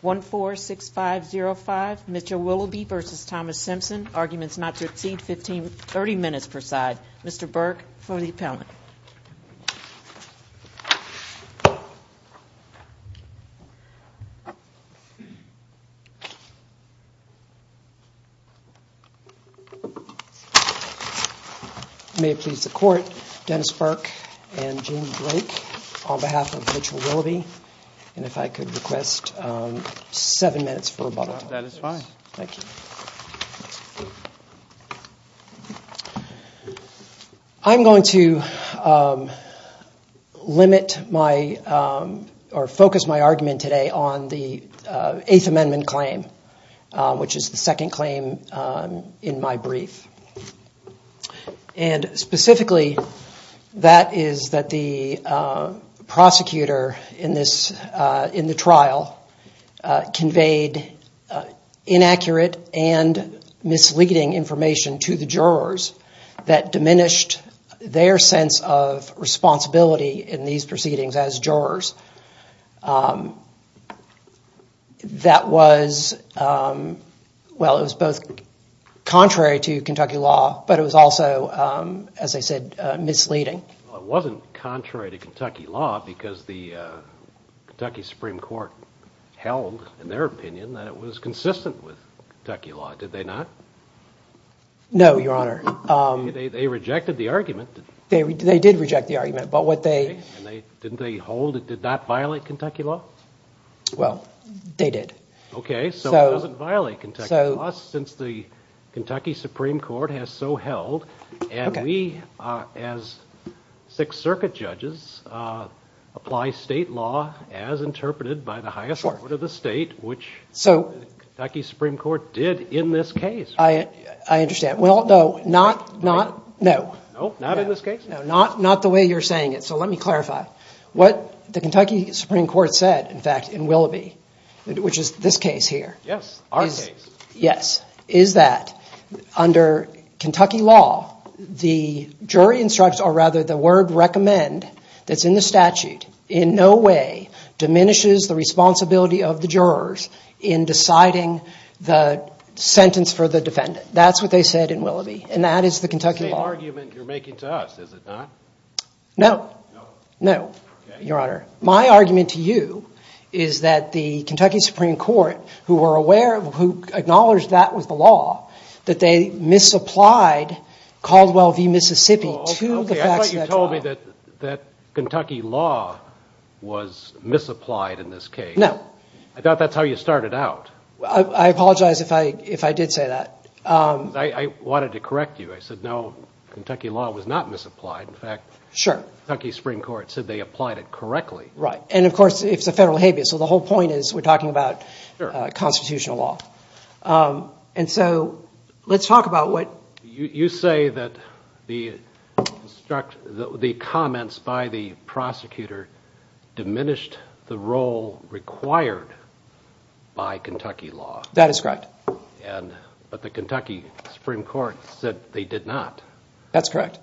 146505 Mitchell Willoughby v. Thomas Simpson. Arguments not to exceed 15-30 minutes preside. Mr. Burke for the appellant. May it please the court, Dennis Burke and Jamie Blake on behalf of Mitchell Willoughby and if I could request seven minutes for rebuttal. Thank you. I'm going to limit my or focus my argument today on the Eighth Amendment claim, which is the second claim in my brief. And specifically that is that the prosecutor in this in the trial conveyed inaccurate and misleading information to the jurors that diminished their sense of responsibility in these proceedings as jurors. That was, well, it was both contrary to Kentucky law, but it was also, as I said, misleading. It wasn't contrary to Kentucky law because the Kentucky Supreme Court held in their opinion that it was consistent with Kentucky law. Did they not? No, Your Honor. They rejected the argument. They did reject the argument. Didn't they hold it did not violate Kentucky law? Well, they did. Okay, so it doesn't violate Kentucky law since the Kentucky Supreme Court has so held. And we, as Sixth Circuit judges, apply state law as interpreted by the highest court of the state, which the Kentucky Supreme Court did in this case. I understand. Well, no, not, not, no. Not in this case. Not, not the way you're saying it. So let me clarify what the Kentucky Supreme Court said, in fact, in Willoughby, which is this case here. Yes. Yes. Is that under Kentucky law, the jury instructs or rather the word recommend that's in the statute in no way diminishes the responsibility of the jurors in deciding the sentence for the defendant. That's what they said in Willoughby. And that is the Kentucky law. The same argument you're making to us, is it not? No. No. No, Your Honor. My argument to you is that the Kentucky Supreme Court, who were aware, who acknowledged that was the law, that they misapplied Caldwell v. Mississippi to the facts of that trial. Okay, I thought you told me that, that Kentucky law was misapplied in this case. No. I thought that's how you started out. I apologize if I, if I did say that. I wanted to correct you. I said, no, Kentucky law was not misapplied. In fact. Sure. Kentucky Supreme Court said they applied it correctly. Right. And of course, it's a federal habeas. So the whole point is we're talking about constitutional law. And so let's talk about what. You say that the comments by the prosecutor diminished the role required by Kentucky law. That is correct. But the Kentucky Supreme Court said they did not. That's correct.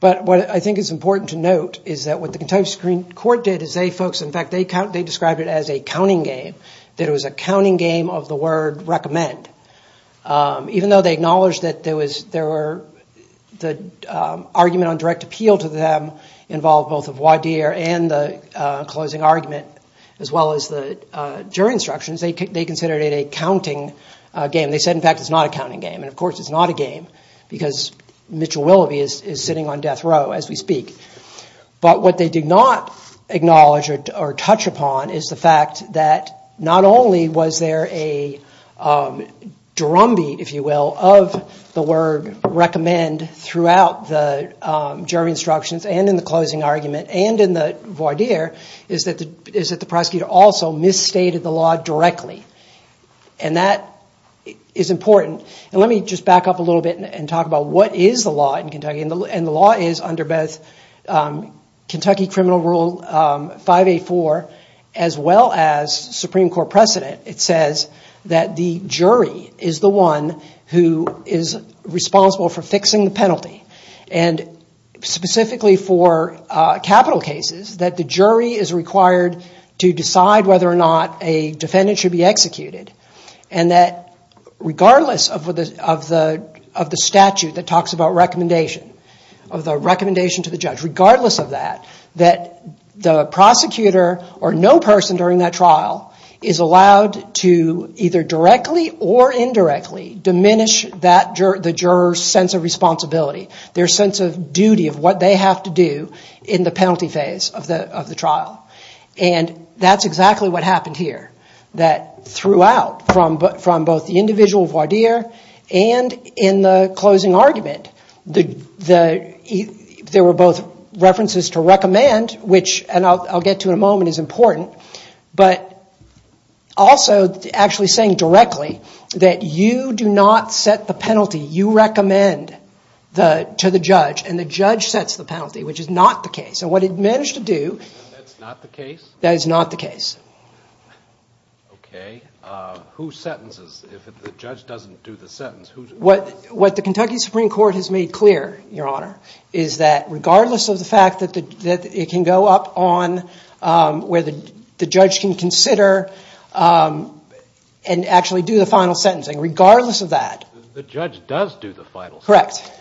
But what I think is important to note is that what the Kentucky Supreme Court did is they, folks, in fact, they described it as a counting game. That it was a counting game of the word recommend. Even though they acknowledged that there was, there were, the argument on direct appeal to them involved both a voir dire and the closing argument, as well as the jury instructions, they considered it a counting game. They said, in fact, it's not a counting game. And of course, it's not a game because Mitchell Willoughby is sitting on death row as we speak. But what they did not acknowledge or touch upon is the fact that not only was there a drumbeat, if you will, of the word recommend throughout the jury instructions and in the closing argument and in the voir dire is that the prosecutor also misstated the law directly. And that is important. And let me just back up a little bit and talk about what is the law in Kentucky. And the law is under both Kentucky Criminal Rule 584 as well as Supreme Court precedent. It says that the jury is the one who is responsible for fixing the penalty. And specifically for capital cases that the jury is required to decide whether or not a defendant should be executed. And that regardless of the statute that talks about recommendation, of the recommendation to the judge, regardless of that, that the prosecutor or no person during that trial is allowed to either directly or indirectly diminish the juror's sense of responsibility. Their sense of duty of what they have to do in the penalty phase of the trial. And that's exactly what happened here. That throughout from both the individual voir dire and in the closing argument, there were both references to recommend, which I'll get to in a moment is important. But also actually saying directly that you do not set the penalty. You recommend to the judge and the judge sets the penalty, which is not the case. And what it managed to do... That's not the case? That is not the case. Okay. Who sentences if the judge doesn't do the sentence? What the Kentucky Supreme Court has made clear, Your Honor, is that regardless of the fact that it can go up on whether the judge can consider and actually do the final sentencing, regardless of that... The judge does do the final sentence. Correct.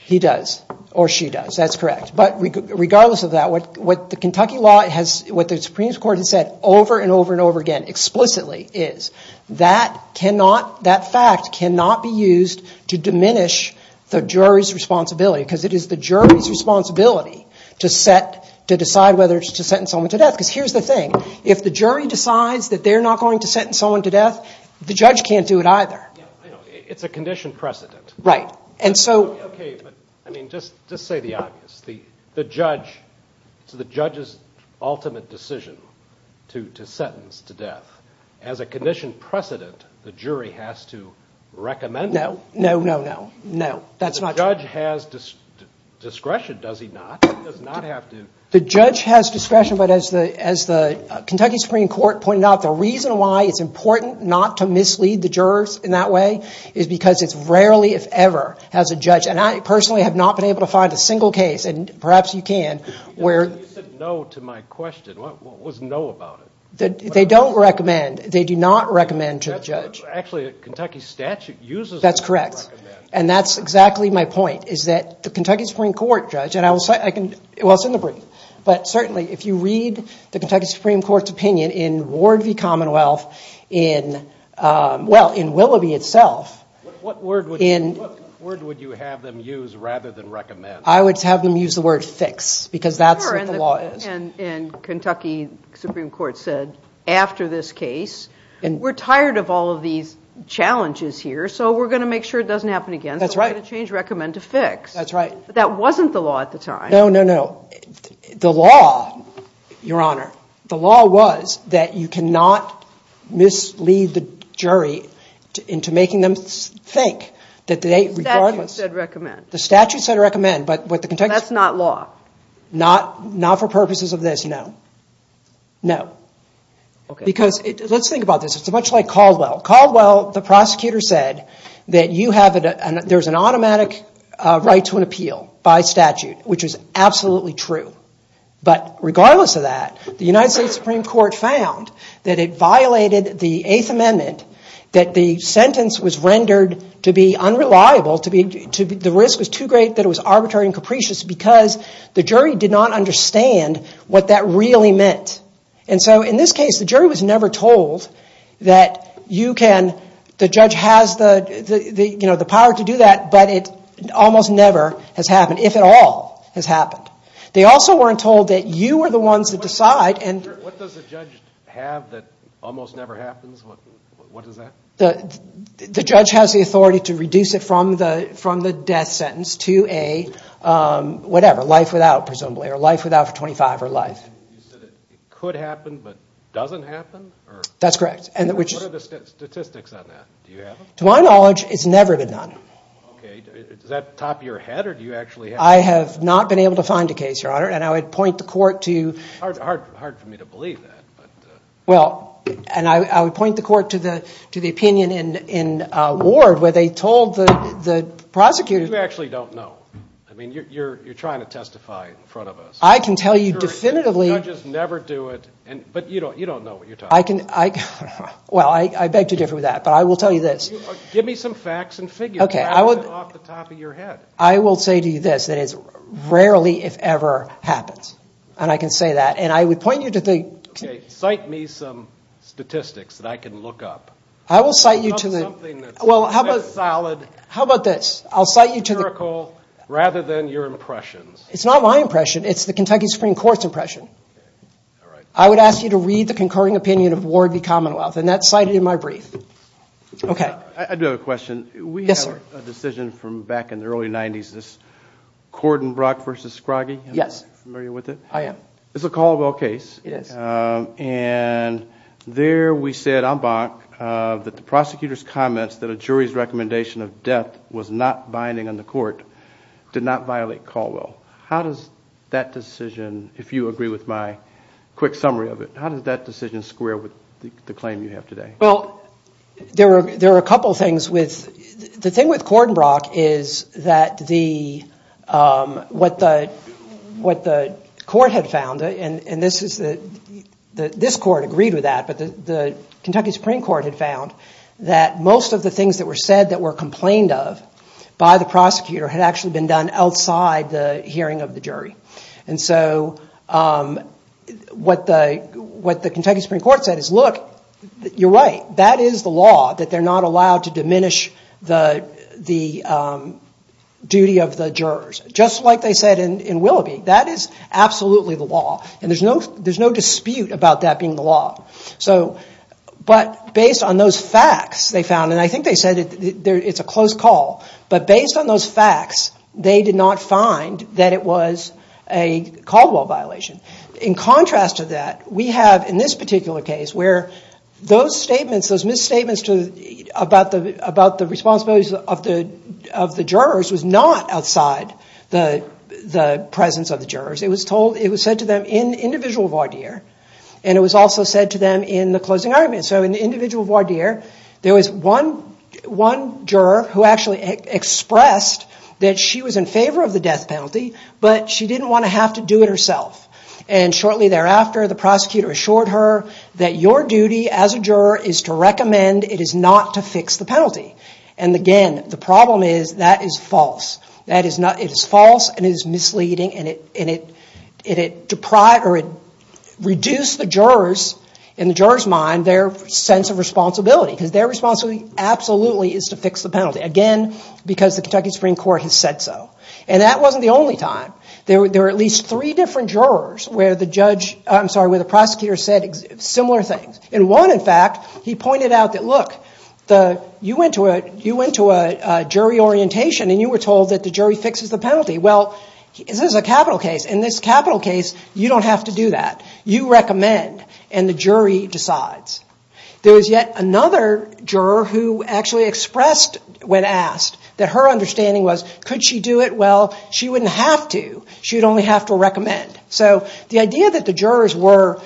He does or she does. That's correct. But regardless of that, what the Kentucky law has... What the Supreme Court has said over and over and over again explicitly is that cannot... That fact cannot be used to diminish the jury's responsibility because it is the jury's responsibility to decide whether to sentence someone to death. Because here's the thing. If the jury decides that they're not going to sentence someone to death, the judge can't do it either. It's a condition precedent. Right. And so... Okay. But, I mean, just say the obvious. The judge... It's the judge's ultimate decision to sentence to death. As a condition precedent, the jury has to recommend... No, no, no, no, no. That's not true. The judge has discretion, does he not? He does not have to... The judge has discretion, but as the Kentucky Supreme Court pointed out, the reason why it's important not to mislead the jurors in that way is because it's rarely, if ever, as a judge... And I personally have not been able to find a single case, and perhaps you can, where... You said no to my question. What was no about it? They don't recommend. They do not recommend to the judge. Actually, Kentucky statute uses... That's correct. And that's exactly my point, is that the Kentucky Supreme Court judge... Well, it's in the brief. But certainly, if you read the Kentucky Supreme Court's opinion in Ward v. Commonwealth in... Well, in Willoughby itself... What word would you have them use rather than recommend? I would have them use the word fix, because that's what the law is. Sure, and Kentucky Supreme Court said, after this case, we're tired of all of these challenges here, so we're going to make sure it doesn't happen again. That's right. So we're going to change recommend to fix. That's right. But that wasn't the law at the time. No, no, no. Your Honor, the law was that you cannot mislead the jury into making them think that they, regardless... The statute said recommend. The statute said recommend, but what the Kentucky... That's not law. Not for purposes of this, no. No. Okay. Because let's think about this. It's much like Caldwell. Caldwell, the prosecutor, said that you have... right to an appeal by statute, which is absolutely true. But regardless of that, the United States Supreme Court found that it violated the Eighth Amendment, that the sentence was rendered to be unreliable. The risk was too great that it was arbitrary and capricious because the jury did not understand what that really meant. And so in this case, the jury was never told that you can... the judge has the power to do that, but it almost never has happened, if at all, has happened. They also weren't told that you were the ones that decide and... What does the judge have that almost never happens? What is that? The judge has the authority to reduce it from the death sentence to a whatever, life without, presumably, or life without for 25 or life. You said it could happen but doesn't happen? That's correct. What are the statistics on that? Do you have them? To my knowledge, it's never been done. Okay. Does that top your head or do you actually have... I have not been able to find a case, Your Honor, and I would point the court to... Hard for me to believe that. Well, and I would point the court to the opinion in Ward where they told the prosecutor... You actually don't know. I mean, you're trying to testify in front of us. I can tell you definitively... The judges never do it, but you don't know what you're talking about. Well, I beg to differ with that, but I will tell you this. Give me some facts and figures. Okay. I would... Off the top of your head. I will say to you this, that it rarely, if ever, happens, and I can say that. And I would point you to the... Okay. Cite me some statistics that I can look up. I will cite you to the... Something that's... Well, how about... Solid... How about this? I'll cite you to the... The empirical rather than your impressions. It's not my impression. It's the Kentucky Supreme Court's impression. Okay. All right. I would ask you to read the concurring opinion of Ward v. Commonwealth, and that's cited in my brief. Okay. I do have a question. Yes, sir. We have a decision from back in the early 90s, this Corden-Brock v. Scroggie. Yes. Are you familiar with it? I am. It's a Caldwell case. It is. And there we said, en banc, that the prosecutor's comments that a jury's recommendation of death was not binding on the court did not violate Caldwell. How does that decision, if you agree with my quick summary of it, how does that decision square with the claim you have today? Well, there are a couple of things with... The thing with Corden-Brock is that the... What the court had found, and this is the... This court agreed with that, but the Kentucky Supreme Court had found that most of the things that were said that were complained of by the prosecutor had actually been done outside the hearing of the jury. And so what the Kentucky Supreme Court said is, look, you're right. That is the law, that they're not allowed to diminish the duty of the jurors. Just like they said in Willoughby, that is absolutely the law, and there's no dispute about that being the law. But based on those facts, they found, and I think they said it's a close call, but based on those facts, they did not find that it was a Caldwell violation. In contrast to that, we have in this particular case where those statements, those misstatements about the responsibilities of the jurors was not outside the presence of the jurors. It was said to them in individual voir dire, and it was also said to them in the closing argument. So in the individual voir dire, there was one juror who actually expressed that she was in favor of the death penalty, but she didn't want to have to do it herself. And shortly thereafter, the prosecutor assured her that your duty as a juror is to recommend it is not to fix the penalty. And again, the problem is that is false. It is false and it is misleading, and it reduced the jurors, in the jurors' mind, their sense of responsibility, because their responsibility absolutely is to fix the penalty. Again, because the Kentucky Supreme Court has said so. And that wasn't the only time. There were at least three different jurors where the prosecutor said similar things. In one, in fact, he pointed out that, look, you went to a jury orientation and you were told that the jury fixes the penalty. Well, this is a capital case. In this capital case, you don't have to do that. You recommend, and the jury decides. There was yet another juror who actually expressed, when asked, that her understanding was, could she do it? Well, she wouldn't have to. She would only have to recommend. So the idea that the jurors were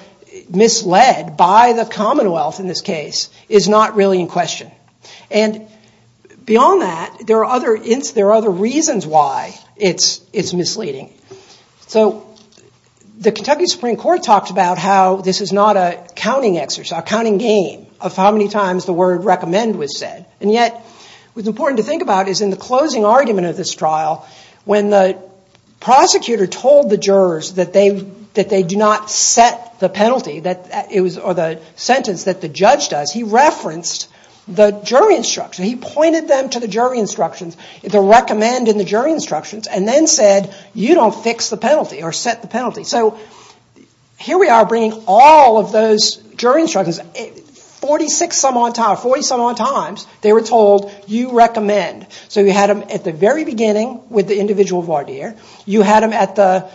misled by the Commonwealth in this case is not really in question. And beyond that, there are other reasons why it's misleading. So the Kentucky Supreme Court talked about how this is not a counting exercise, a counting game of how many times the word recommend was said. And yet, what's important to think about is in the closing argument of this trial, when the prosecutor told the jurors that they do not set the penalty, or the sentence that the judge does, he referenced the jury instructions. He pointed them to the jury instructions, the recommend in the jury instructions, and then said, you don't fix the penalty or set the penalty. So here we are bringing all of those jury instructions. Forty-some odd times, they were told, you recommend. So you had them at the very beginning with the individual voir dire. You had them at the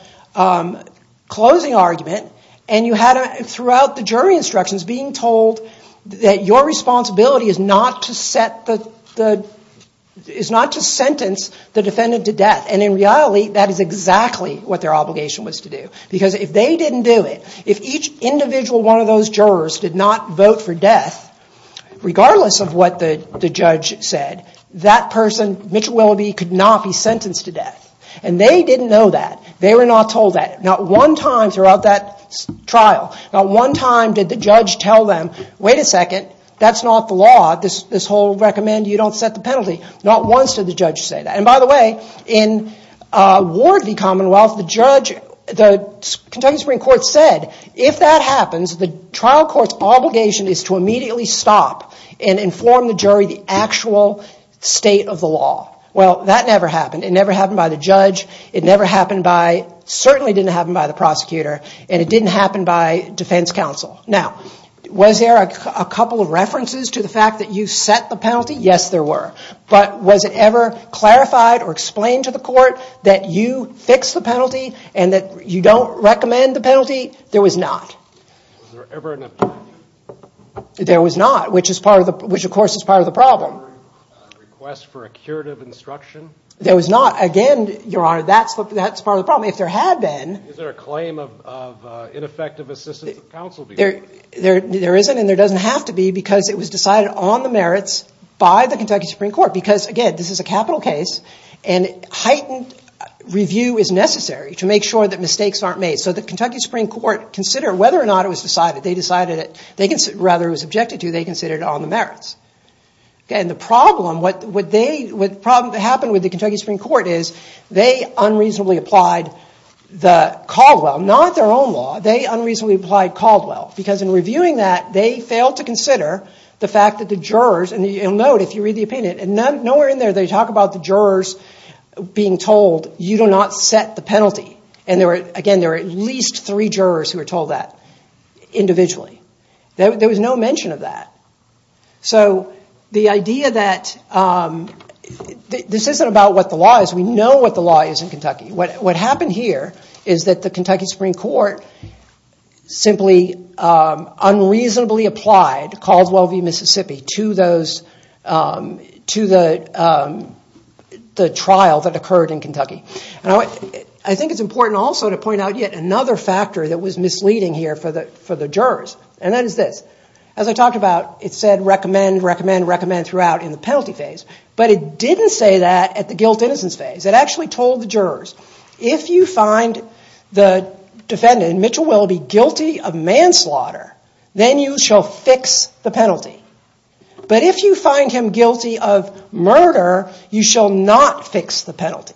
closing argument. And you had them throughout the jury instructions being told that your responsibility is not to sentence the defendant to death. And in reality, that is exactly what their obligation was to do. Because if they didn't do it, if each individual one of those jurors did not vote for death, regardless of what the judge said, that person, Mitchell Willoughby, could not be sentenced to death. And they didn't know that. They were not told that. Not one time throughout that trial, not one time did the judge tell them, wait a second, that's not the law. This whole recommend you don't set the penalty. Not once did the judge say that. And by the way, in Ward v. Commonwealth, the judge, the Kentucky Supreme Court said, if that happens, the trial court's obligation is to immediately stop and inform the jury the actual state of the law. Well, that never happened. It never happened by the judge. It never happened by, certainly didn't happen by the prosecutor. And it didn't happen by defense counsel. Now, was there a couple of references to the fact that you set the penalty? Yes, there were. But was it ever clarified or explained to the court that you fix the penalty and that you don't recommend the penalty? There was not. Was there ever an opinion? There was not, which of course is part of the problem. Was there a request for a curative instruction? There was not. Again, Your Honor, that's part of the problem. If there had been. Is there a claim of ineffective assistance of counsel? There isn't and there doesn't have to be because it was decided on the merits by the Kentucky Supreme Court because, again, this is a capital case and heightened review is necessary to make sure that mistakes aren't made. So the Kentucky Supreme Court considered whether or not it was decided, And the problem, what happened with the Kentucky Supreme Court is they unreasonably applied Caldwell, not their own law. They unreasonably applied Caldwell because in reviewing that, they failed to consider the fact that the jurors, and you'll note if you read the opinion, nowhere in there they talk about the jurors being told, you do not set the penalty. And again, there were at least three jurors who were told that individually. There was no mention of that. So the idea that this isn't about what the law is. We know what the law is in Kentucky. What happened here is that the Kentucky Supreme Court simply unreasonably applied Caldwell v. Mississippi to the trial that occurred in Kentucky. I think it's important also to point out yet another factor that was misleading here for the jurors, and that is this. As I talked about, it said recommend, recommend, recommend throughout in the penalty phase, but it didn't say that at the guilt-innocence phase. It actually told the jurors, if you find the defendant, Mitchell Willoughby, guilty of manslaughter, then you shall fix the penalty. But if you find him guilty of murder, you shall not fix the penalty.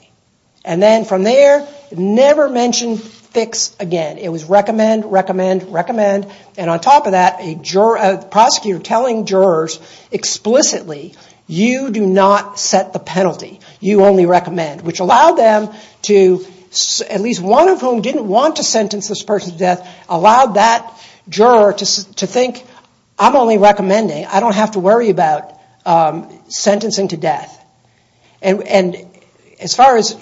And then from there, never mention fix again. It was recommend, recommend, recommend, and on top of that, the prosecutor telling jurors explicitly, you do not set the penalty. You only recommend, which allowed them to, at least one of whom didn't want to sentence this person to death, allowed that juror to think, I'm only recommending. I don't have to worry about sentencing to death. And as far as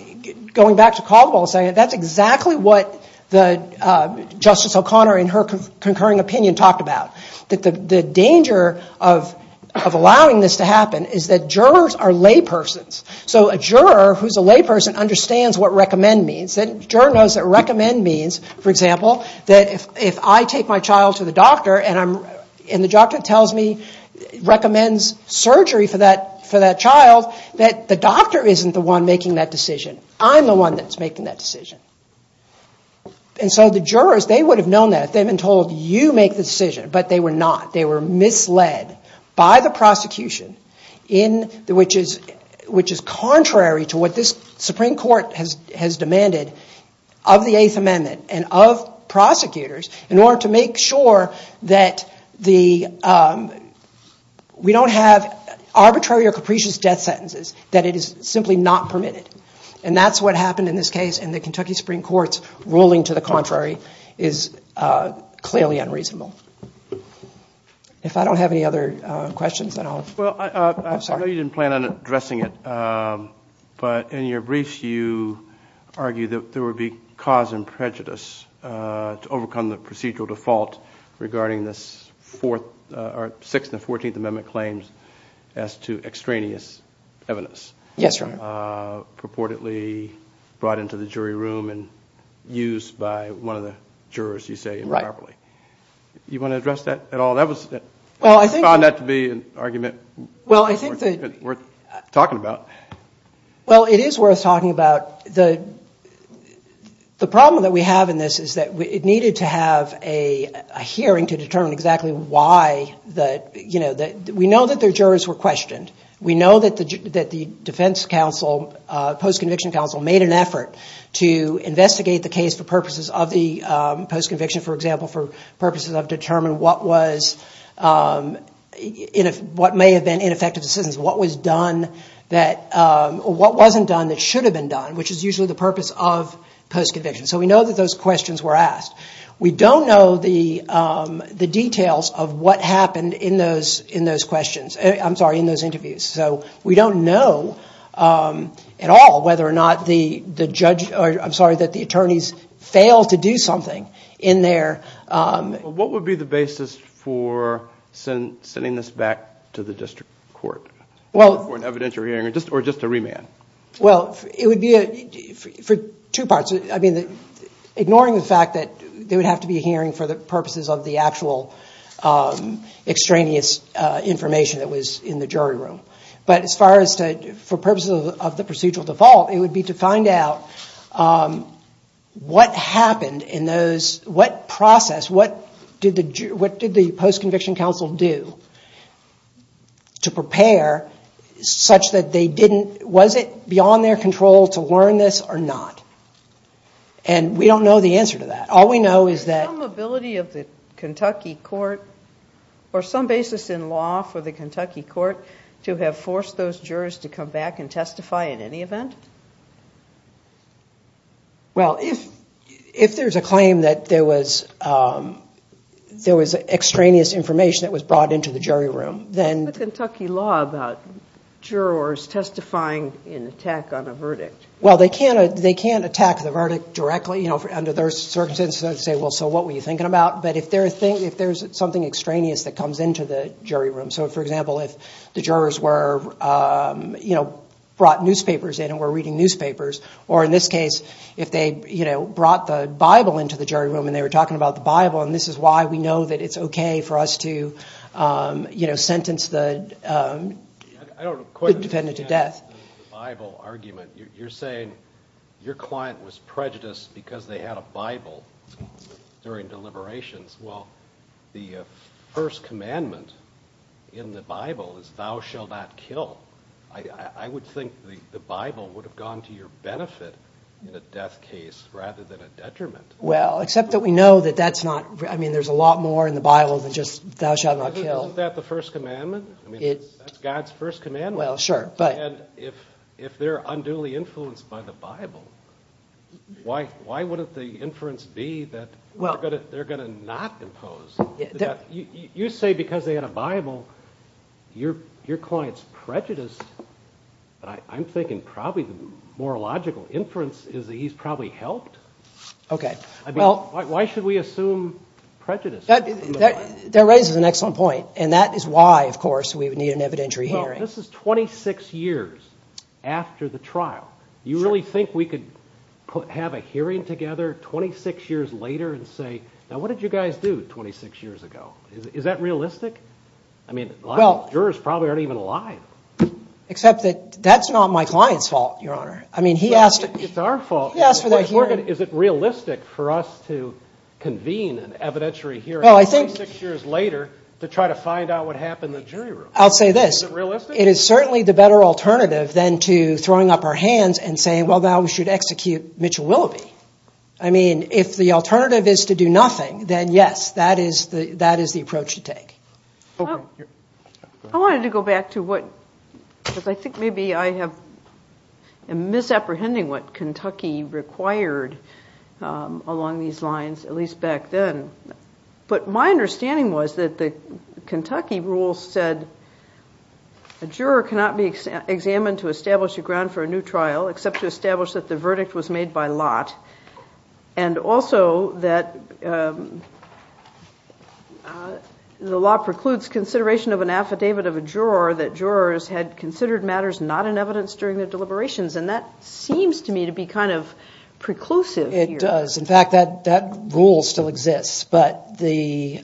going back to Caldwell, that's exactly what Justice O'Connor, in her concurring opinion, talked about. The danger of allowing this to happen is that jurors are laypersons. So a juror who's a layperson understands what recommend means. A juror knows that recommend means, for example, that if I take my child to the doctor and the doctor tells me, recommends surgery for that child, that the doctor isn't the one making that decision. I'm the one that's making that decision. And so the jurors, they would have known that if they had been told, you make the decision. But they were not. They were misled by the prosecution, which is contrary to what this Supreme Court has demanded of the Eighth Amendment and of prosecutors in order to make sure that we don't have arbitrary or capricious death sentences, that it is simply not permitted. And that's what happened in this case, and the Kentucky Supreme Court's ruling to the contrary is clearly unreasonable. If I don't have any other questions, then I'll... Well, I know you didn't plan on addressing it, but in your briefs you argue that there would be cause and prejudice to overcome the procedural default regarding this Sixth and Fourteenth Amendment claims as to extraneous evidence. Yes, Your Honor. Purportedly brought into the jury room and used by one of the jurors, you say, improperly. Right. Do you want to address that at all? I found that to be an argument worth talking about. Well, it is worth talking about. The problem that we have in this is that it needed to have a hearing to determine exactly why. We know that the jurors were questioned. We know that the defense counsel, post-conviction counsel, made an effort to investigate the case for purposes of the post-conviction, for example, for purposes of determining what was... what may have been ineffective decisions, what was done that... what wasn't done that should have been done, which is usually the purpose of post-conviction. So we know that those questions were asked. We don't know the details of what happened in those questions. I'm sorry, in those interviews. So we don't know at all whether or not the judge... I'm sorry, that the attorneys failed to do something in their... What would be the basis for sending this back to the district court for an evidentiary hearing or just a remand? Well, it would be for two parts. I mean, ignoring the fact that they would have to be hearing for the purposes of the actual extraneous information that was in the jury room. But as far as for purposes of the procedural default, it would be to find out what happened in those... what process, what did the post-conviction counsel do to prepare such that they didn't... was it beyond their control to learn this or not? And we don't know the answer to that. All we know is that... Is there some ability of the Kentucky court or some basis in law for the Kentucky court to have forced those jurors to come back and testify in any event? Well, if there's a claim that there was extraneous information that was brought into the jury room, then... What's the Kentucky law about jurors testifying in attack on a verdict? Well, they can't attack the verdict directly under their circumstances and say, well, so what were you thinking about? But if there's something extraneous that comes into the jury room, so for example, if the jurors were... brought newspapers in and were reading newspapers, or in this case, if they brought the Bible into the jury room and they were talking about the Bible, and this is why we know that it's okay for us to sentence the... I don't quite understand the Bible argument. You're saying your client was prejudiced because they had a Bible during deliberations. Well, the first commandment in the Bible is thou shalt not kill. I would think the Bible would have gone to your benefit in a death case rather than a detriment. Well, except that we know that that's not... I mean, there's a lot more in the Bible than just thou shalt not kill. Isn't that the first commandment? I mean, that's God's first commandment. Well, sure, but... And if they're unduly influenced by the Bible, why wouldn't the inference be that they're going to not impose? You say because they had a Bible, your client's prejudiced, but I'm thinking probably the more logical inference is that he's probably helped. Okay. I mean, why should we assume prejudice? That raises an excellent point, and that is why, of course, we would need an evidentiary hearing. This is 26 years after the trial. You really think we could have a hearing together 26 years later and say, now, what did you guys do 26 years ago? Is that realistic? I mean, a lot of jurors probably aren't even alive. Except that that's not my client's fault, Your Honor. I mean, he asked... It's our fault. He asked for their hearing. Is it realistic for us to convene an evidentiary hearing 26 years later to try to find out what happened in the jury room? I'll say this. Is it realistic? It is certainly the better alternative than to throwing up our hands and saying, well, now we should execute Mitchell-Willoughby. I mean, if the alternative is to do nothing, then yes, that is the approach to take. I wanted to go back to what... because I think maybe I am misapprehending what Kentucky required along these lines, at least back then. But my understanding was that the Kentucky rule said that a juror cannot be examined to establish a ground for a new trial except to establish that the verdict was made by lot, and also that the law precludes consideration of an affidavit of a juror that jurors had considered matters not in evidence during their deliberations. And that seems to me to be kind of preclusive here. It does. In fact, that rule still exists. Why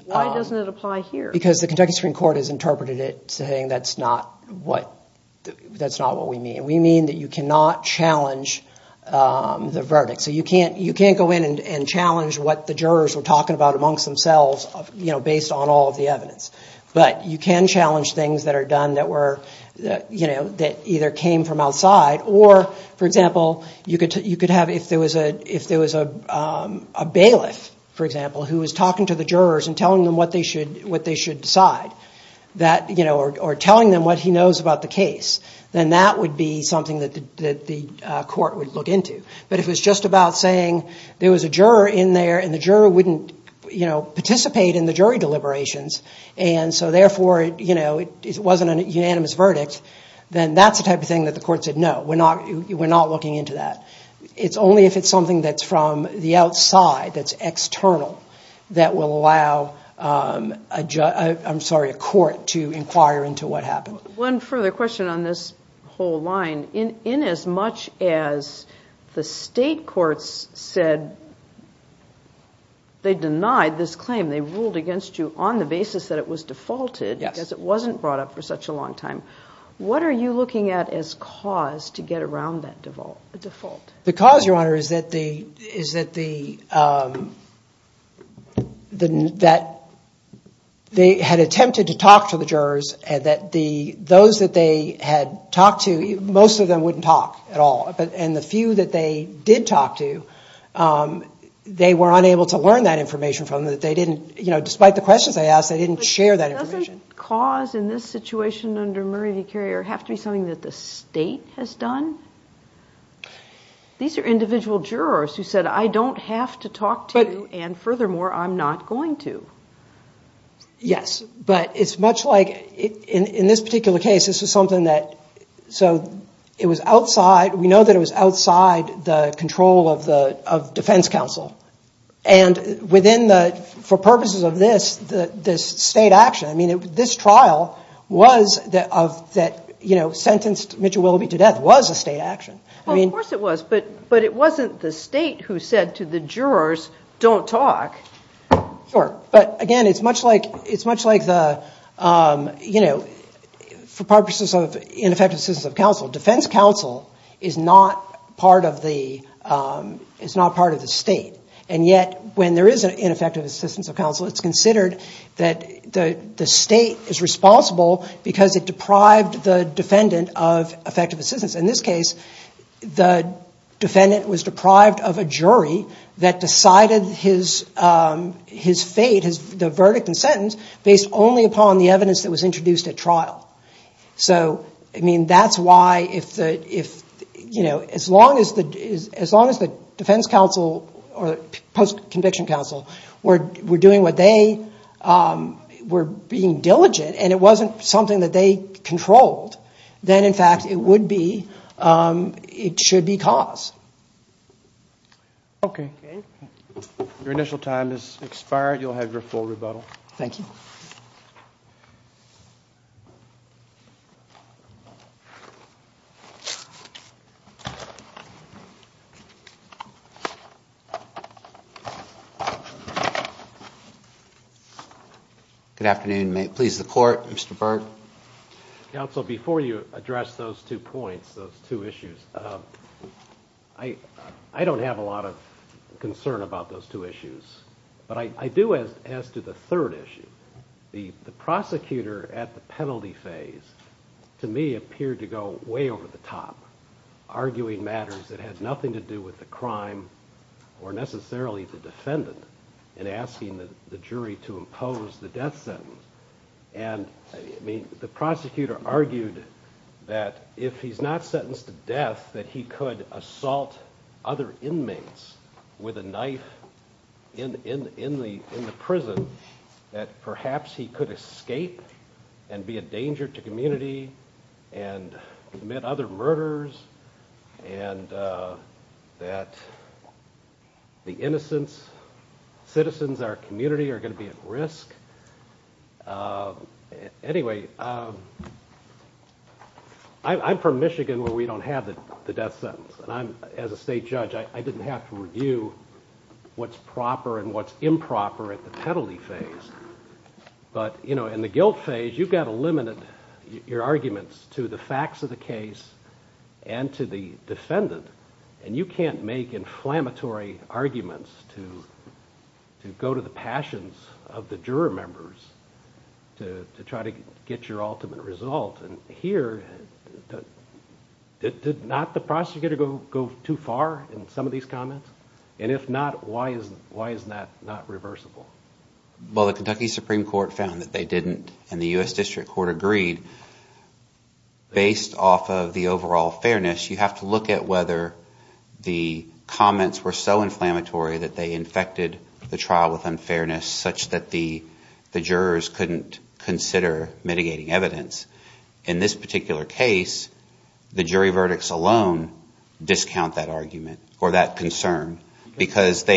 doesn't it apply here? Because the Kentucky Supreme Court has interpreted it saying that's not what we mean. We mean that you cannot challenge the verdict. So you can't go in and challenge what the jurors were talking about amongst themselves based on all of the evidence. But you can challenge things that are done that either came from outside, or, for example, you could have if there was a bailiff, for example, who was talking to the jurors and telling them what they should decide or telling them what he knows about the case, then that would be something that the court would look into. But if it was just about saying there was a juror in there and the juror wouldn't participate in the jury deliberations, and so therefore it wasn't a unanimous verdict, then that's the type of thing that the court said, no, we're not looking into that. It's only if it's something that's from the outside, that's external, that will allow a court to inquire into what happened. One further question on this whole line. Inasmuch as the state courts said they denied this claim, they ruled against you on the basis that it was defaulted because it wasn't brought up for such a long time, what are you looking at as cause to get around that default? The cause, Your Honor, is that they had attempted to talk to the jurors and that those that they had talked to, most of them wouldn't talk at all, and the few that they did talk to, they were unable to learn that information from them. Despite the questions they asked, they didn't share that information. Does the cause in this situation under Murray v. Carrier have to be something that the state has done? These are individual jurors who said, I don't have to talk to you, and furthermore, I'm not going to. Yes, but it's much like, in this particular case, this was something that, so it was outside, we know that it was outside the control of defense counsel, and for purposes of this, this state action, this trial that sentenced Mitchell Willoughby to death was a state action. Well, of course it was, but it wasn't the state who said to the jurors, don't talk. Sure, but again, it's much like, for purposes of ineffective assistance of counsel, defense counsel is not part of the state, and yet, when there is an ineffective assistance of counsel, it's considered that the state is responsible because it deprived the defendant of effective assistance. In this case, the defendant was deprived of a jury that decided his fate, the verdict and sentence, based only upon the evidence that was introduced at trial. So, I mean, that's why, as long as the defense counsel, or post-conviction counsel, were doing what they were being diligent, and it wasn't something that they controlled, then, in fact, it would be, it should be cause. Okay. Your initial time has expired. You'll have your full rebuttal. Thank you. Thank you. Good afternoon. May it please the Court, Mr. Berg. Counsel, before you address those two points, those two issues, I don't have a lot of concern about those two issues, but I do as to the third issue. The prosecutor at the penalty phase, to me, appeared to go way over the top, arguing matters that had nothing to do with the crime or necessarily the defendant in asking the jury to impose the death sentence. And, I mean, the prosecutor argued that if he's not sentenced to death, that he could assault other inmates with a knife in the prison that perhaps he could escape and be a danger to community and commit other murders, and that the innocents, citizens, our community, are going to be at risk. Anyway, I'm from Michigan where we don't have the death sentence, and I'm, as a state judge, I didn't have to review what's proper and what's improper at the penalty phase. But in the guilt phase, you've got to limit your arguments to the facts of the case and to the defendant, and you can't make inflammatory arguments to go to the passions of the juror members to try to get your ultimate result. And here, did not the prosecutor go too far in some of these comments? And if not, why is that not reversible? Well, the Kentucky Supreme Court found that they didn't, and the U.S. District Court agreed. Based off of the overall fairness, you have to look at whether the comments were so inflammatory that they infected the trial with unfairness such that the jurors couldn't consider mitigating evidence. In this particular case, the jury verdicts alone discount that argument or that concern. Evidence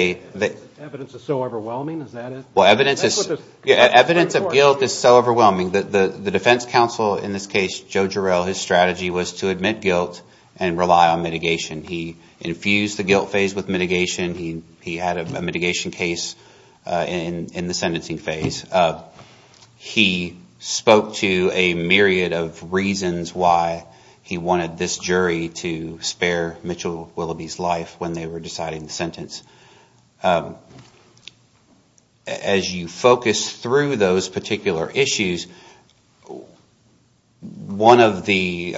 is so overwhelming, is that it? Well, evidence of guilt is so overwhelming that the defense counsel in this case, Joe Jarrell, his strategy was to admit guilt and rely on mitigation. He infused the guilt phase with mitigation. He had a mitigation case in the sentencing phase. He spoke to a myriad of reasons why he wanted this jury to spare Mitchell Willoughby's life when they were deciding the sentence. As you focus through those particular issues, one of the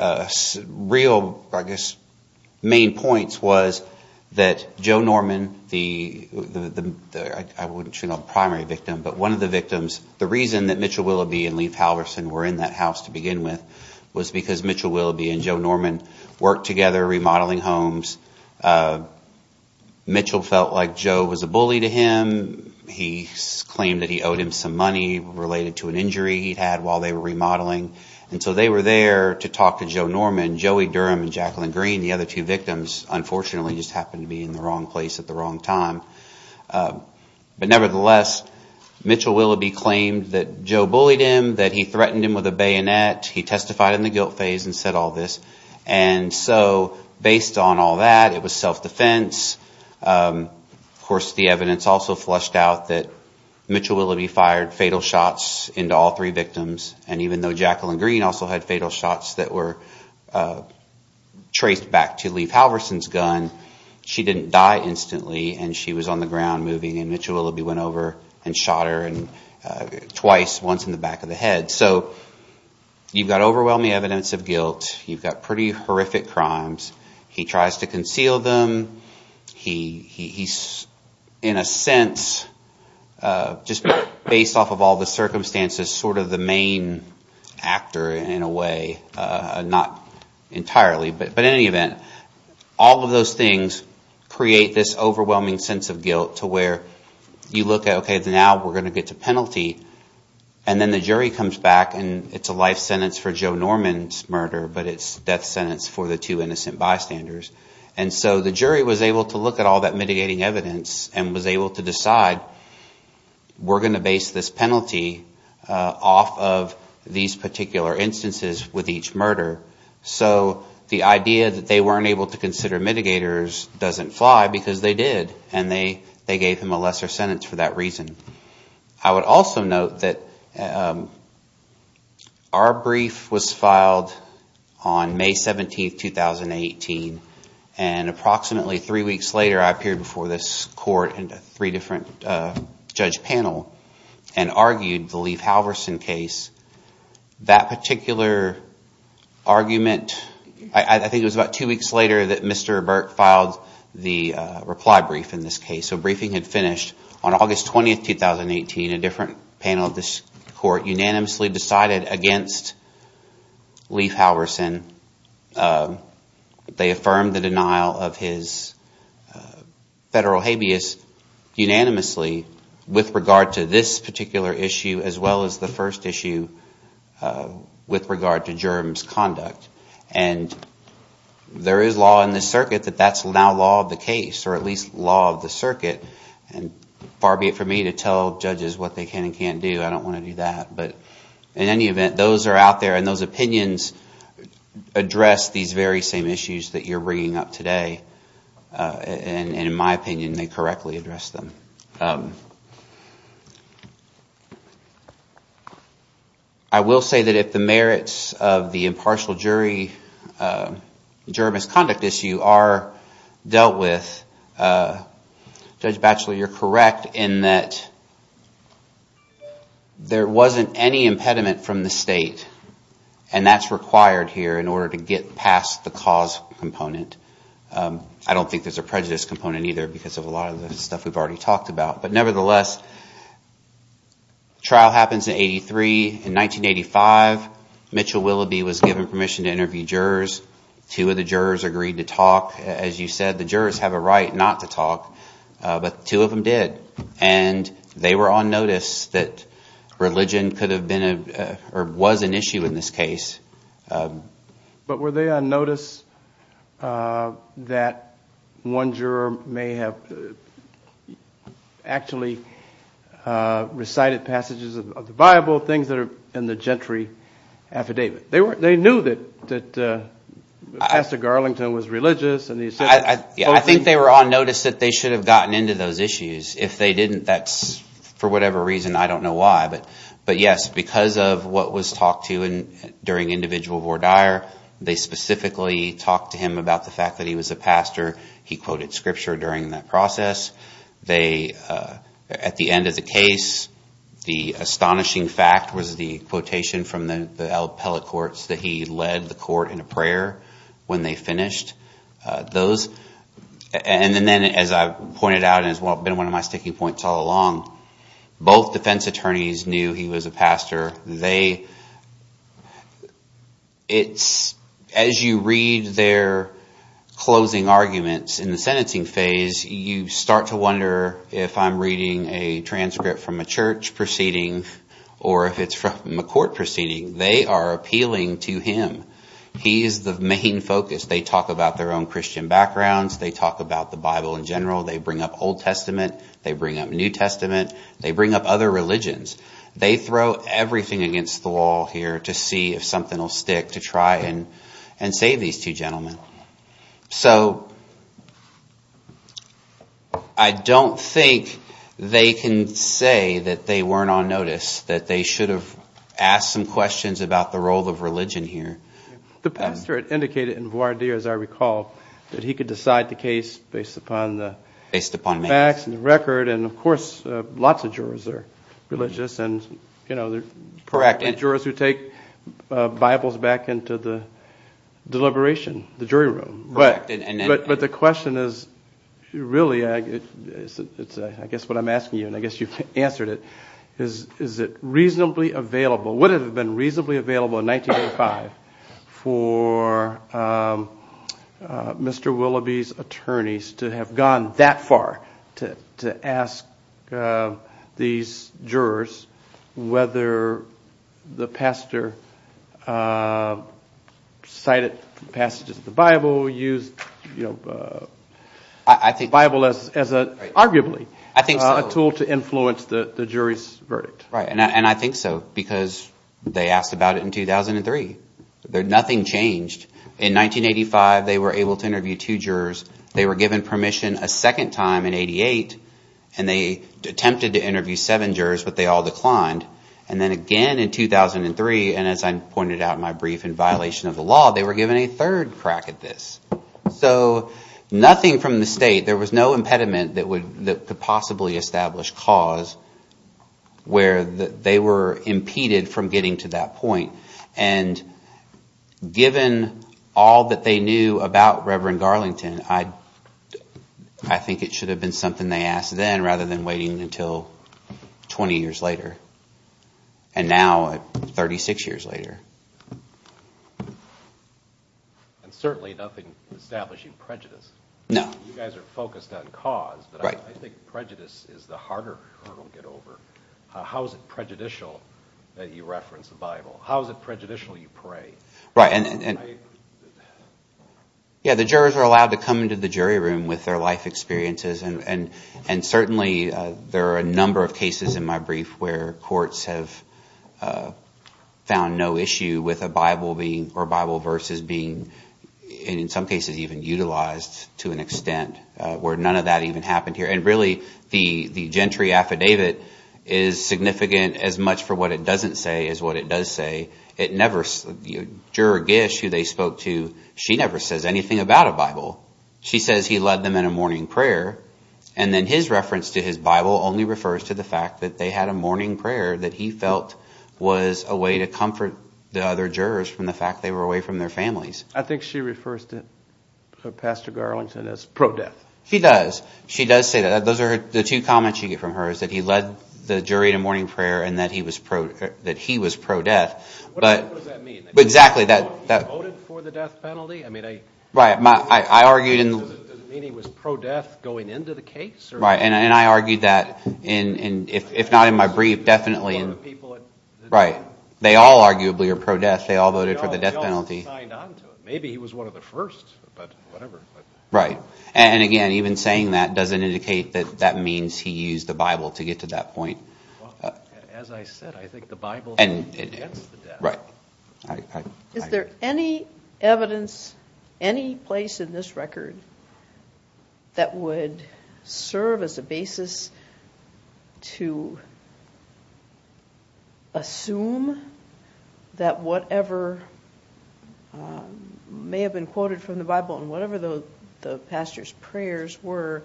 real, I guess, main points was that Joe Norman, I wouldn't say the primary victim, but one of the victims, the reason that Mitchell Willoughby and Leith Halverson were in that house to begin with was because Mitchell Willoughby and Joe Norman worked together remodeling homes. Mitchell felt like Joe was a bully to him. He claimed that he owed him some money related to an injury he'd had while they were remodeling. And so they were there to talk to Joe Norman. Joey Durham and Jacqueline Green, the other two victims, unfortunately just happened to be in the wrong place at the wrong time. But nevertheless, Mitchell Willoughby claimed that Joe bullied him, that he threatened him with a bayonet. He testified in the guilt phase and said all this. And so based on all that, it was self-defense. Of course, the evidence also flushed out that Mitchell Willoughby fired fatal shots into all three victims. And even though Jacqueline Green also had fatal shots that were traced back to Leith Halverson's gun, she didn't die instantly and she was on the ground moving. And Mitchell Willoughby went over and shot her twice, once in the back of the head. So you've got overwhelming evidence of guilt. You've got pretty horrific crimes. He tries to conceal them. He's, in a sense, just based off of all the circumstances, sort of the main actor in a way, not entirely. But in any event, all of those things create this overwhelming sense of guilt to where you look at, okay, now we're going to get to penalty. And then the jury comes back and it's a life sentence for Joe Norman's murder, but it's a death sentence for the two innocent bystanders. And so the jury was able to look at all that mitigating evidence and was able to decide we're going to base this penalty off of these particular instances with each murder. So the idea that they weren't able to consider mitigators doesn't fly because they did and they gave him a lesser sentence for that reason. I would also note that our brief was filed on May 17, 2018, and approximately three weeks later I appeared before this court and three different judge panels and argued the Leith Halverson case. That particular argument, I think it was about two weeks later that Mr. Burke filed the reply brief in this case. So briefing had finished on August 20, 2018. A different panel of this court unanimously decided against Leith Halverson. They affirmed the denial of his federal habeas unanimously with regard to this particular issue as well as the first issue with regard to germs conduct. And there is law in this circuit that that's now law of the case, or at least law of the circuit. Far be it for me to tell judges what they can and can't do. I don't want to do that. But in any event, those are out there and those opinions address these very same issues that you're bringing up today. And in my opinion, they correctly address them. I will say that if the merits of the impartial jury germs conduct issue are dealt with, Judge Batchelor, you're correct in that there wasn't any impediment from the state, and that's required here in order to get past the cause component. I don't think there's a prejudice component either because of a lot of the stuff we've already talked about. But nevertheless, trial happens in 83. In 1985, Mitchell Willoughby was given permission to interview jurors. Two of the jurors agreed to talk. As you said, the jurors have a right not to talk, but two of them did. And they were on notice that religion could have been or was an issue in this case. But were they on notice that one juror may have actually recited passages of the Bible, things that are in the gentry affidavit? They knew that Pastor Garlington was religious. I think they were on notice that they should have gotten into those issues. If they didn't, that's for whatever reason. I don't know why. But, yes, because of what was talked to during individual voir dire, they specifically talked to him about the fact that he was a pastor. He quoted scripture during that process. At the end of the case, the astonishing fact was the quotation from the appellate courts that he led the court in a prayer when they finished. And then, as I've pointed out and has been one of my sticking points all along, both defense attorneys knew he was a pastor. As you read their closing arguments in the sentencing phase, you start to wonder if I'm reading a transcript from a church proceeding or if it's from a court proceeding. They are appealing to him. He is the main focus. They talk about their own Christian backgrounds. They talk about the Bible in general. They bring up Old Testament. They bring up New Testament. They bring up other religions. They throw everything against the wall here to see if something will stick to try and save these two gentlemen. So I don't think they can say that they weren't on notice, that they should have asked some questions about the role of religion here. The pastor indicated in voir dire, as I recall, that he could decide the case based upon the facts and the record. And, of course, lots of jurors are religious, and there are jurors who take Bibles back into the deliberation, the jury room. But the question is really, I guess what I'm asking you, and I guess you've answered it, is it reasonably available, would it have been reasonably available in 1985 for Mr. Willoughby's attorneys to have gone that far to ask these jurors whether the pastor cited passages of the Bible, used the Bible as arguably a tool to influence the jury's verdict? Right, and I think so, because they asked about it in 2003. Nothing changed. In 1985, they were able to interview two jurors. They were given permission a second time in 88, and they attempted to interview seven jurors, but they all declined. And then again in 2003, and as I pointed out in my brief, in violation of the law, they were given a third crack at this. So nothing from the state, there was no impediment that could possibly establish cause where they were impeded from getting to that point. And given all that they knew about Reverend Garlington, I think it should have been something they asked then rather than waiting until 20 years later, and now 36 years later. And certainly nothing establishing prejudice. No. You guys are focused on cause, but I think prejudice is the harder hurdle to get over. How is it prejudicial that you reference the Bible? How is it prejudicial you pray? Right, and the jurors are allowed to come into the jury room with their life experiences, and certainly there are a number of cases in my brief where courts have found no issue with a Bible or Bible verses being in some cases even utilized to an extent, where none of that even happened here. And really the gentry affidavit is significant as much for what it doesn't say as what it does say. Juror Gish, who they spoke to, she never says anything about a Bible. She says he led them in a morning prayer, and then his reference to his Bible only refers to the fact that they had a morning prayer that he felt was a way to comfort the other jurors from the fact they were away from their families. I think she refers to Pastor Garlington as pro-death. She does. She does say that. Those are the two comments you get from her is that he led the jury in a morning prayer and that he was pro-death. What does that mean? Exactly. He voted for the death penalty? Right. I argued in the... Does it mean he was pro-death going into the case? Right, and I argued that, if not in my brief, definitely. Right. They all arguably are pro-death. They all voted for the death penalty. Maybe he was one of the first, but whatever. Right, and again, even saying that doesn't indicate that that means he used the Bible to get to that point. As I said, I think the Bible gets the death. Right. Is there any evidence, any place in this record that would serve as a basis to assume that whatever may have been quoted from the Bible and whatever the pastor's prayers were,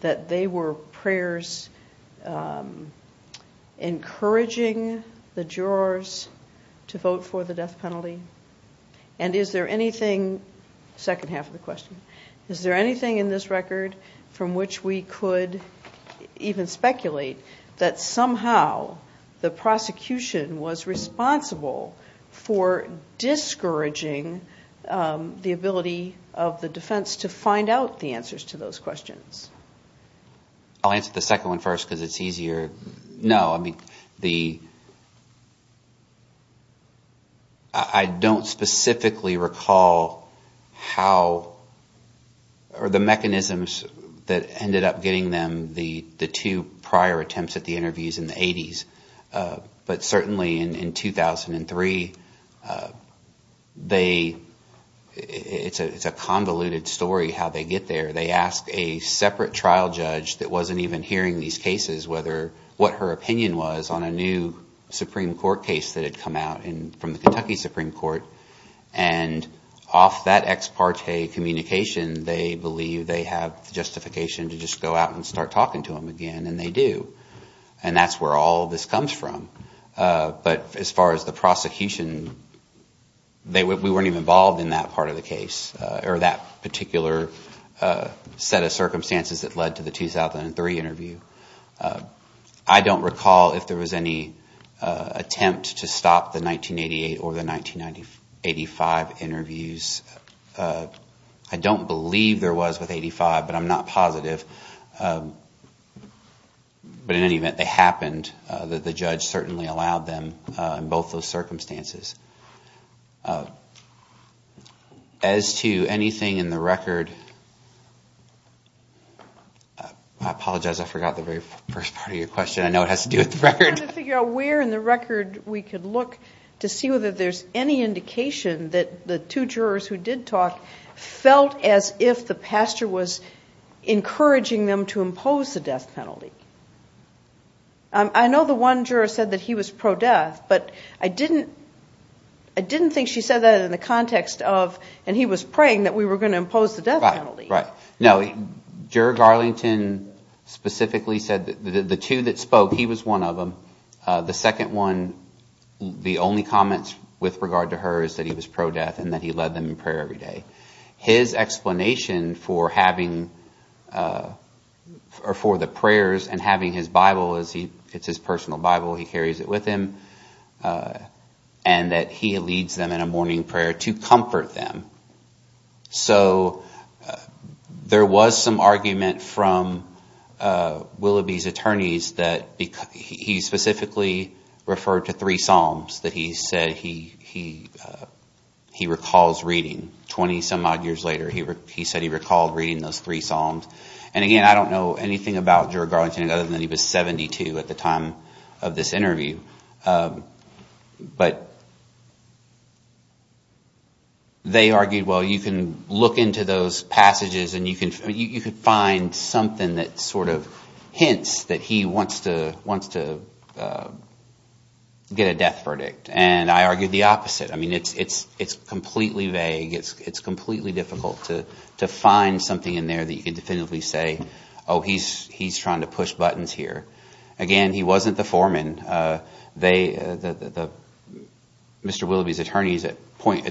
that encouraging the jurors to vote for the death penalty? And is there anything... Second half of the question. Is there anything in this record from which we could even speculate that somehow the prosecution was responsible for discouraging the ability of the defense to find out the answers to those questions? I'll answer the second one first because it's easier. No, I mean, I don't specifically recall how or the mechanisms that ended up getting them the two prior attempts at the interviews in the 80s. But certainly in 2003, it's a convoluted story how they get there. They ask a separate trial judge that wasn't even hearing these cases what her opinion was on a new Supreme Court case that had come out from the Kentucky Supreme Court. And off that ex parte communication, they believe they have justification to just go out and start talking to him again, and they do. And that's where all of this comes from. But as far as the prosecution, we weren't even involved in that part of the case or that particular set of circumstances that led to the 2003 interview. I don't recall if there was any attempt to stop the 1988 or the 1985 interviews. I don't believe there was with 85, but I'm not positive. But in any event, they happened. The judge certainly allowed them in both those circumstances. As to anything in the record, I apologize, I forgot the very first part of your question. I know it has to do with the record. I'm trying to figure out where in the record we could look to see whether there's any indication that the two jurors who did talk felt as if the pastor was encouraging them to impose the death penalty. I know the one juror said that he was pro-death, but I didn't think she said that in the context of and he was praying that we were going to impose the death penalty. Right, right. No, Juror Garlington specifically said that the two that spoke, he was one of them. The second one, the only comments with regard to her is that he was pro-death and that he led them in prayer every day. His explanation for the prayers and having his Bible, it's his personal Bible, he carries it with him, and that he leads them in a morning prayer to comfort them. So there was some argument from Willoughby's attorneys that he specifically referred to three psalms that he said he recalls reading. Twenty-some odd years later, he said he recalled reading those three psalms. And again, I don't know anything about Juror Garlington other than he was 72 at the time of this interview. But they argued, well, you can look into those passages and you can find something that sort of hints that he wants to get a death verdict. And I argued the opposite. I mean it's completely vague. It's completely difficult to find something in there that you can definitively say, oh, he's trying to push buttons here. Again, he wasn't the foreman. Mr. Willoughby's attorneys at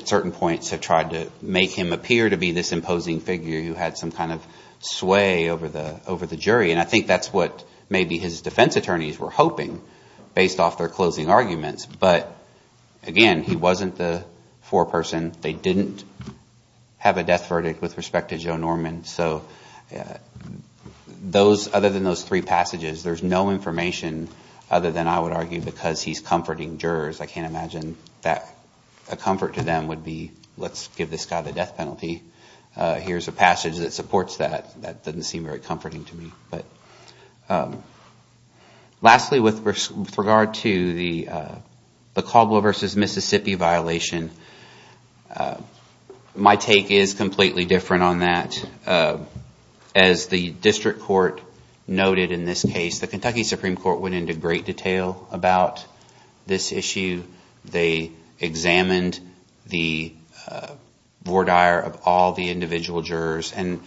certain points have tried to make him appear to be this imposing figure who had some kind of sway over the jury. And I think that's what maybe his defense attorneys were hoping based off their closing arguments. But again, he wasn't the foreperson. They didn't have a death verdict with respect to Joe Norman. So other than those three passages, there's no information other than I would argue because he's comforting jurors. I can't imagine that a comfort to them would be let's give this guy the death penalty. Here's a passage that supports that. That doesn't seem very comforting to me. Lastly, with regard to the Caldwell v. Mississippi violation, my take is completely different on that. As the district court noted in this case, the Kentucky Supreme Court went into great detail about this issue. They examined the voir dire of all the individual jurors, and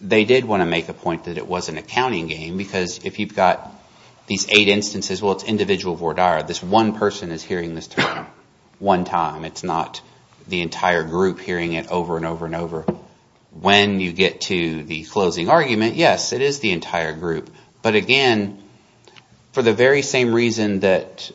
they did want to make a point that it wasn't a counting game. Because if you've got these eight instances, well, it's individual voir dire. This one person is hearing this term one time. It's not the entire group hearing it over and over and over. When you get to the closing argument, yes, it is the entire group. But again, for the very same reason that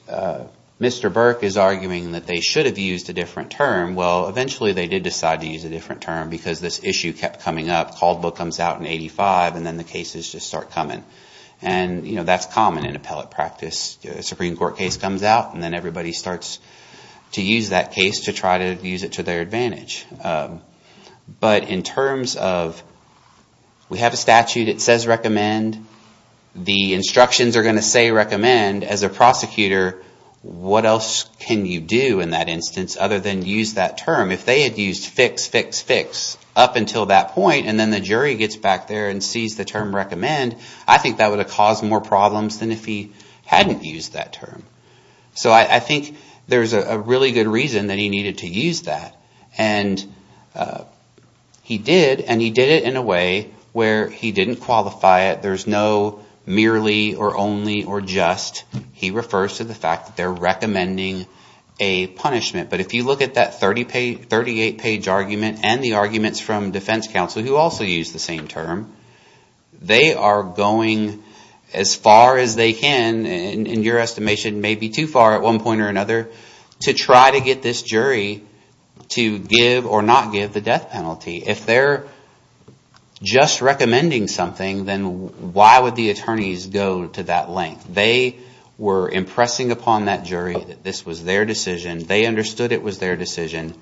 Mr. Burke is arguing that they should have used a different term, well, eventually they did decide to use a different term because this issue kept coming up. Caldwell comes out in 1985, and then the cases just start coming. That's common in appellate practice. A Supreme Court case comes out, and then everybody starts to use that case to try to use it to their advantage. But in terms of, we have a statute that says recommend. The instructions are going to say recommend. As a prosecutor, what else can you do in that instance other than use that term? If they had used fix, fix, fix up until that point, and then the jury gets back there and sees the term recommend, I think that would have caused more problems than if he hadn't used that term. So I think there's a really good reason that he needed to use that. And he did, and he did it in a way where he didn't qualify it. There's no merely or only or just. He refers to the fact that they're recommending a punishment. But if you look at that 38-page argument and the arguments from defense counsel who also use the same term, they are going as far as they can, and your estimation may be too far at one point or another, to try to get this jury to give or not give the death penalty. If they're just recommending something, then why would the attorneys go to that length? They were impressing upon that jury that this was their decision. They understood it was their decision.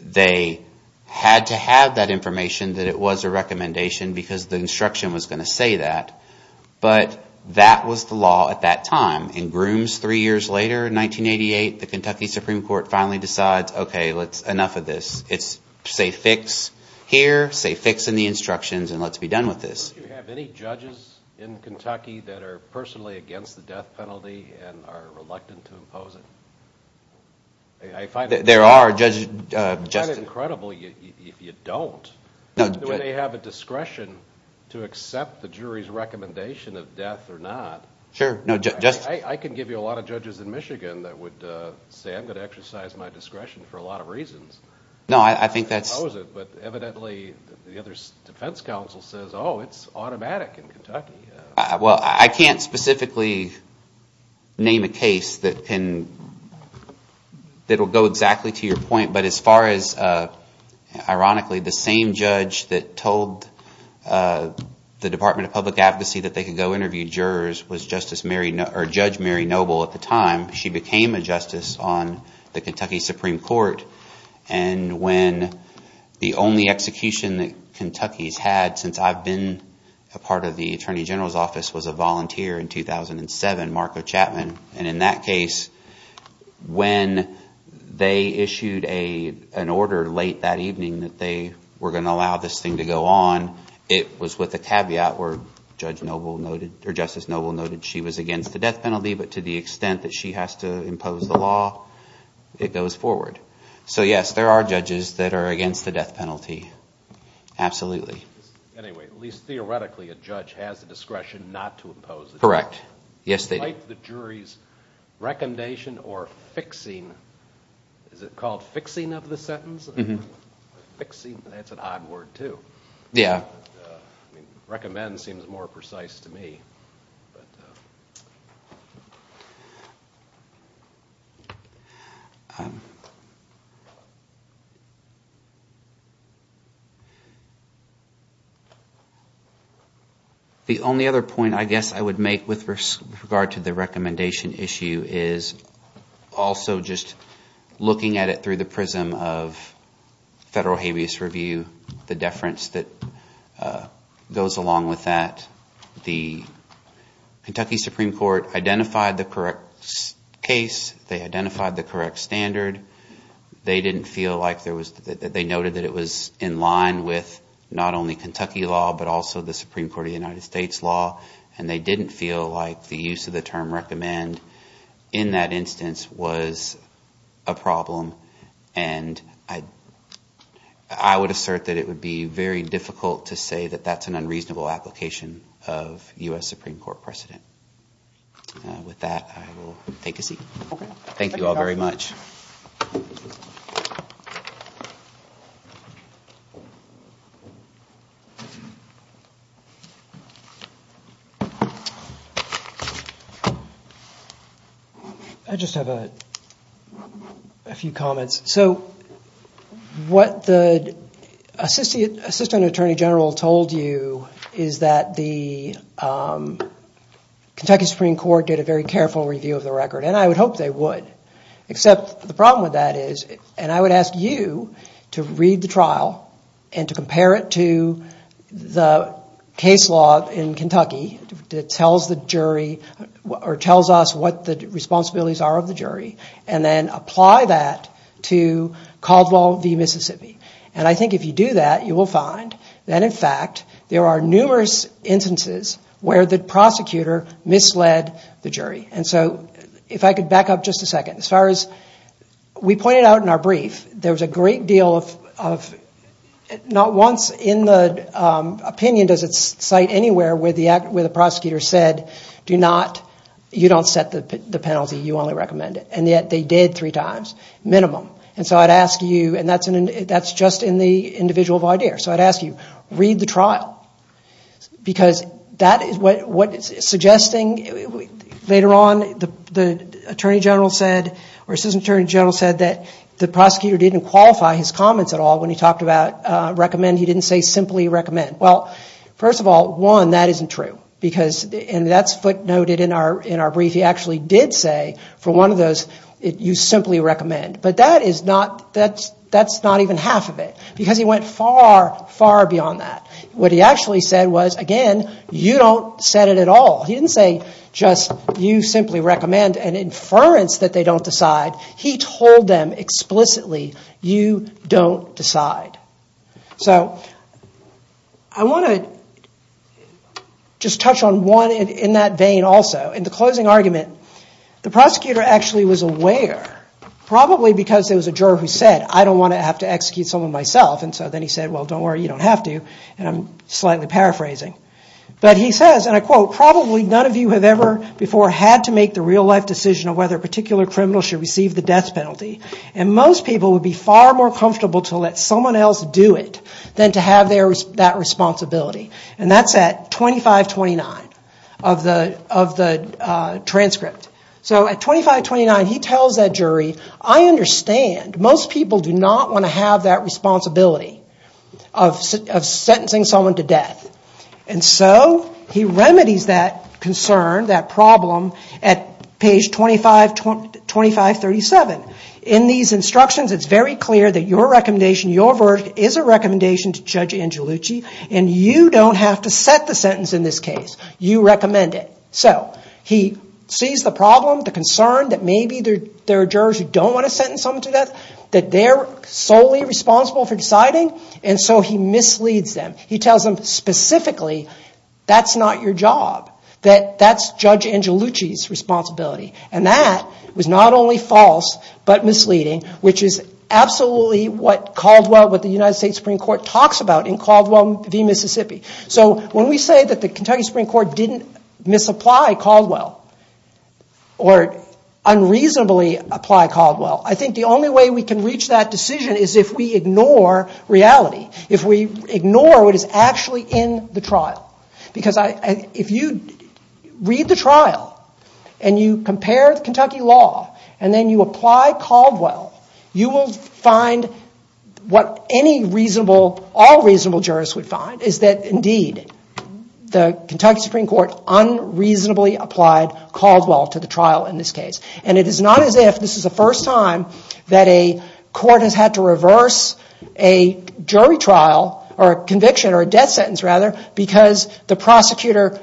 They had to have that information that it was a recommendation because the instruction was going to say that. But that was the law at that time. In Grooms three years later in 1988, the Kentucky Supreme Court finally decides, okay, enough of this. It's say fix here, say fix in the instructions, and let's be done with this. Do you have any judges in Kentucky that are personally against the death penalty and are reluctant to impose it? I find it incredible if you don't. Do they have a discretion to accept the jury's recommendation of death or not? I can give you a lot of judges in Michigan that would say I'm going to exercise my discretion for a lot of reasons. No, I think that's – But evidently the other defense counsel says, oh, it's automatic in Kentucky. Well, I can't specifically name a case that can – that will go exactly to your point. But as far as – ironically, the same judge that told the Department of Public Advocacy that they could go interview jurors was Judge Mary Noble at the time. She became a justice on the Kentucky Supreme Court. And when the only execution that Kentucky's had since I've been a part of the attorney general's office was a volunteer in 2007, Marco Chapman. And in that case, when they issued an order late that evening that they were going to allow this thing to go on, it was with a caveat where Judge Noble noted – or Justice Noble noted she was against the death penalty. But to the extent that she has to impose the law, it goes forward. So yes, there are judges that are against the death penalty. Absolutely. Anyway, at least theoretically a judge has the discretion not to impose the death penalty. Correct. Yes, they do. Despite the jury's recommendation or fixing – is it called fixing of the sentence? Mm-hmm. Fixing – that's an odd word too. Yeah. Recommend seems more precise to me. The only other point I guess I would make with regard to the recommendation issue is also just looking at it through the prism of federal habeas review, the deference that goes along with that, the Kentucky Supreme Court identified the correct case. They identified the correct standard. They didn't feel like there was – they noted that it was in line with not only Kentucky law but also the Supreme Court of the United States law. And they didn't feel like the use of the term recommend in that instance was a problem. And I would assert that it would be very difficult to say that that's an unreasonable application of U.S. Supreme Court precedent. With that, I will take a seat. Okay. Thank you all very much. I just have a few comments. So what the assistant attorney general told you is that the Kentucky Supreme Court did a very careful review of the record. And I would hope they would. Except the problem with that is – and I would ask you to read the trial and to compare it to the case law in Kentucky that tells the jury or tells us what the responsibilities are of the jury. And then apply that to Caldwell v. Mississippi. And I think if you do that, you will find that in fact there are numerous instances where the prosecutor misled the jury. And so if I could back up just a second. As far as we pointed out in our brief, there was a great deal of – not once in the opinion does it cite anywhere where the prosecutor said, do not – you don't set the penalty. You only recommend it. And yet they did three times, minimum. And so I would ask you – and that's just in the individual of idea. So I would ask you, read the trial. Because that is what – suggesting later on the attorney general said or assistant attorney general said that the prosecutor didn't qualify his comments at all when he talked about recommend. He didn't say simply recommend. Well, first of all, one, that isn't true. Because – and that's footnoted in our brief. He actually did say for one of those, you simply recommend. But that is not – that's not even half of it. Because he went far, far beyond that. What he actually said was, again, you don't set it at all. He didn't say just you simply recommend an inference that they don't decide. He told them explicitly, you don't decide. So I want to just touch on one in that vein also. In the closing argument, the prosecutor actually was aware, probably because there was a juror who said, I don't want to have to execute someone myself. And so then he said, well, don't worry, you don't have to. And I'm slightly paraphrasing. But he says, and I quote, probably none of you have ever before had to make the real life decision of whether a particular criminal should receive the death penalty. And most people would be far more comfortable to let someone else do it than to have that responsibility. And that's at 2529 of the transcript. So at 2529, he tells that jury, I understand. Most people do not want to have that responsibility of sentencing someone to death. And so he remedies that concern, that problem, at page 2537. In these instructions, it's very clear that your recommendation, your verdict, is a recommendation to Judge Angelucci. And you don't have to set the sentence in this case. You recommend it. So he sees the problem, the concern that maybe there are jurors who don't want to sentence someone to death, that they're solely responsible for deciding. And so he misleads them. He tells them specifically, that's not your job, that that's Judge Angelucci's responsibility. And that was not only false, but misleading, which is absolutely what Caldwell, what the United States Supreme Court talks about in Caldwell v. Mississippi. So when we say that the Kentucky Supreme Court didn't misapply Caldwell, or unreasonably apply Caldwell, I think the only way we can reach that decision is if we ignore reality. If we ignore what is actually in the trial. Because if you read the trial, and you compare the Kentucky law, and then you apply Caldwell, you will find what any reasonable, all reasonable jurists would find, is that indeed, the Kentucky Supreme Court unreasonably applied Caldwell to the trial in this case. And it is not as if this is the first time that a court has had to reverse a jury trial, or a conviction, or a death sentence rather, because the prosecutor,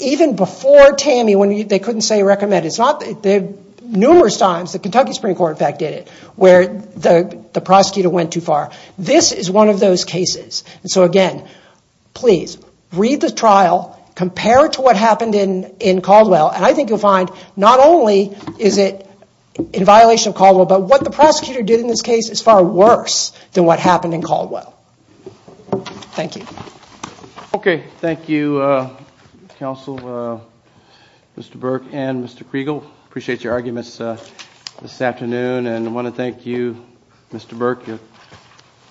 even before TAMI, when they couldn't say recommend, it's not, numerous times the Kentucky Supreme Court in fact did it, where the prosecutor went too far. This is one of those cases. And so again, please, read the trial, compare it to what happened in Caldwell, and I think you'll find not only is it in violation of Caldwell, but what the prosecutor did in this case is far worse than what happened in Caldwell. Thank you. Okay, thank you, Counsel, Mr. Burke and Mr. Kriegel. I appreciate your arguments this afternoon, and I want to thank you, Mr. Burke, your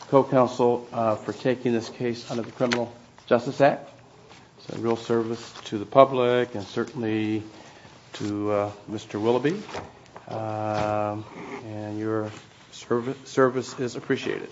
co-counsel, for taking this case under the Criminal Justice Act. It's a real service to the public, and certainly to Mr. Willoughby, and your service is appreciated.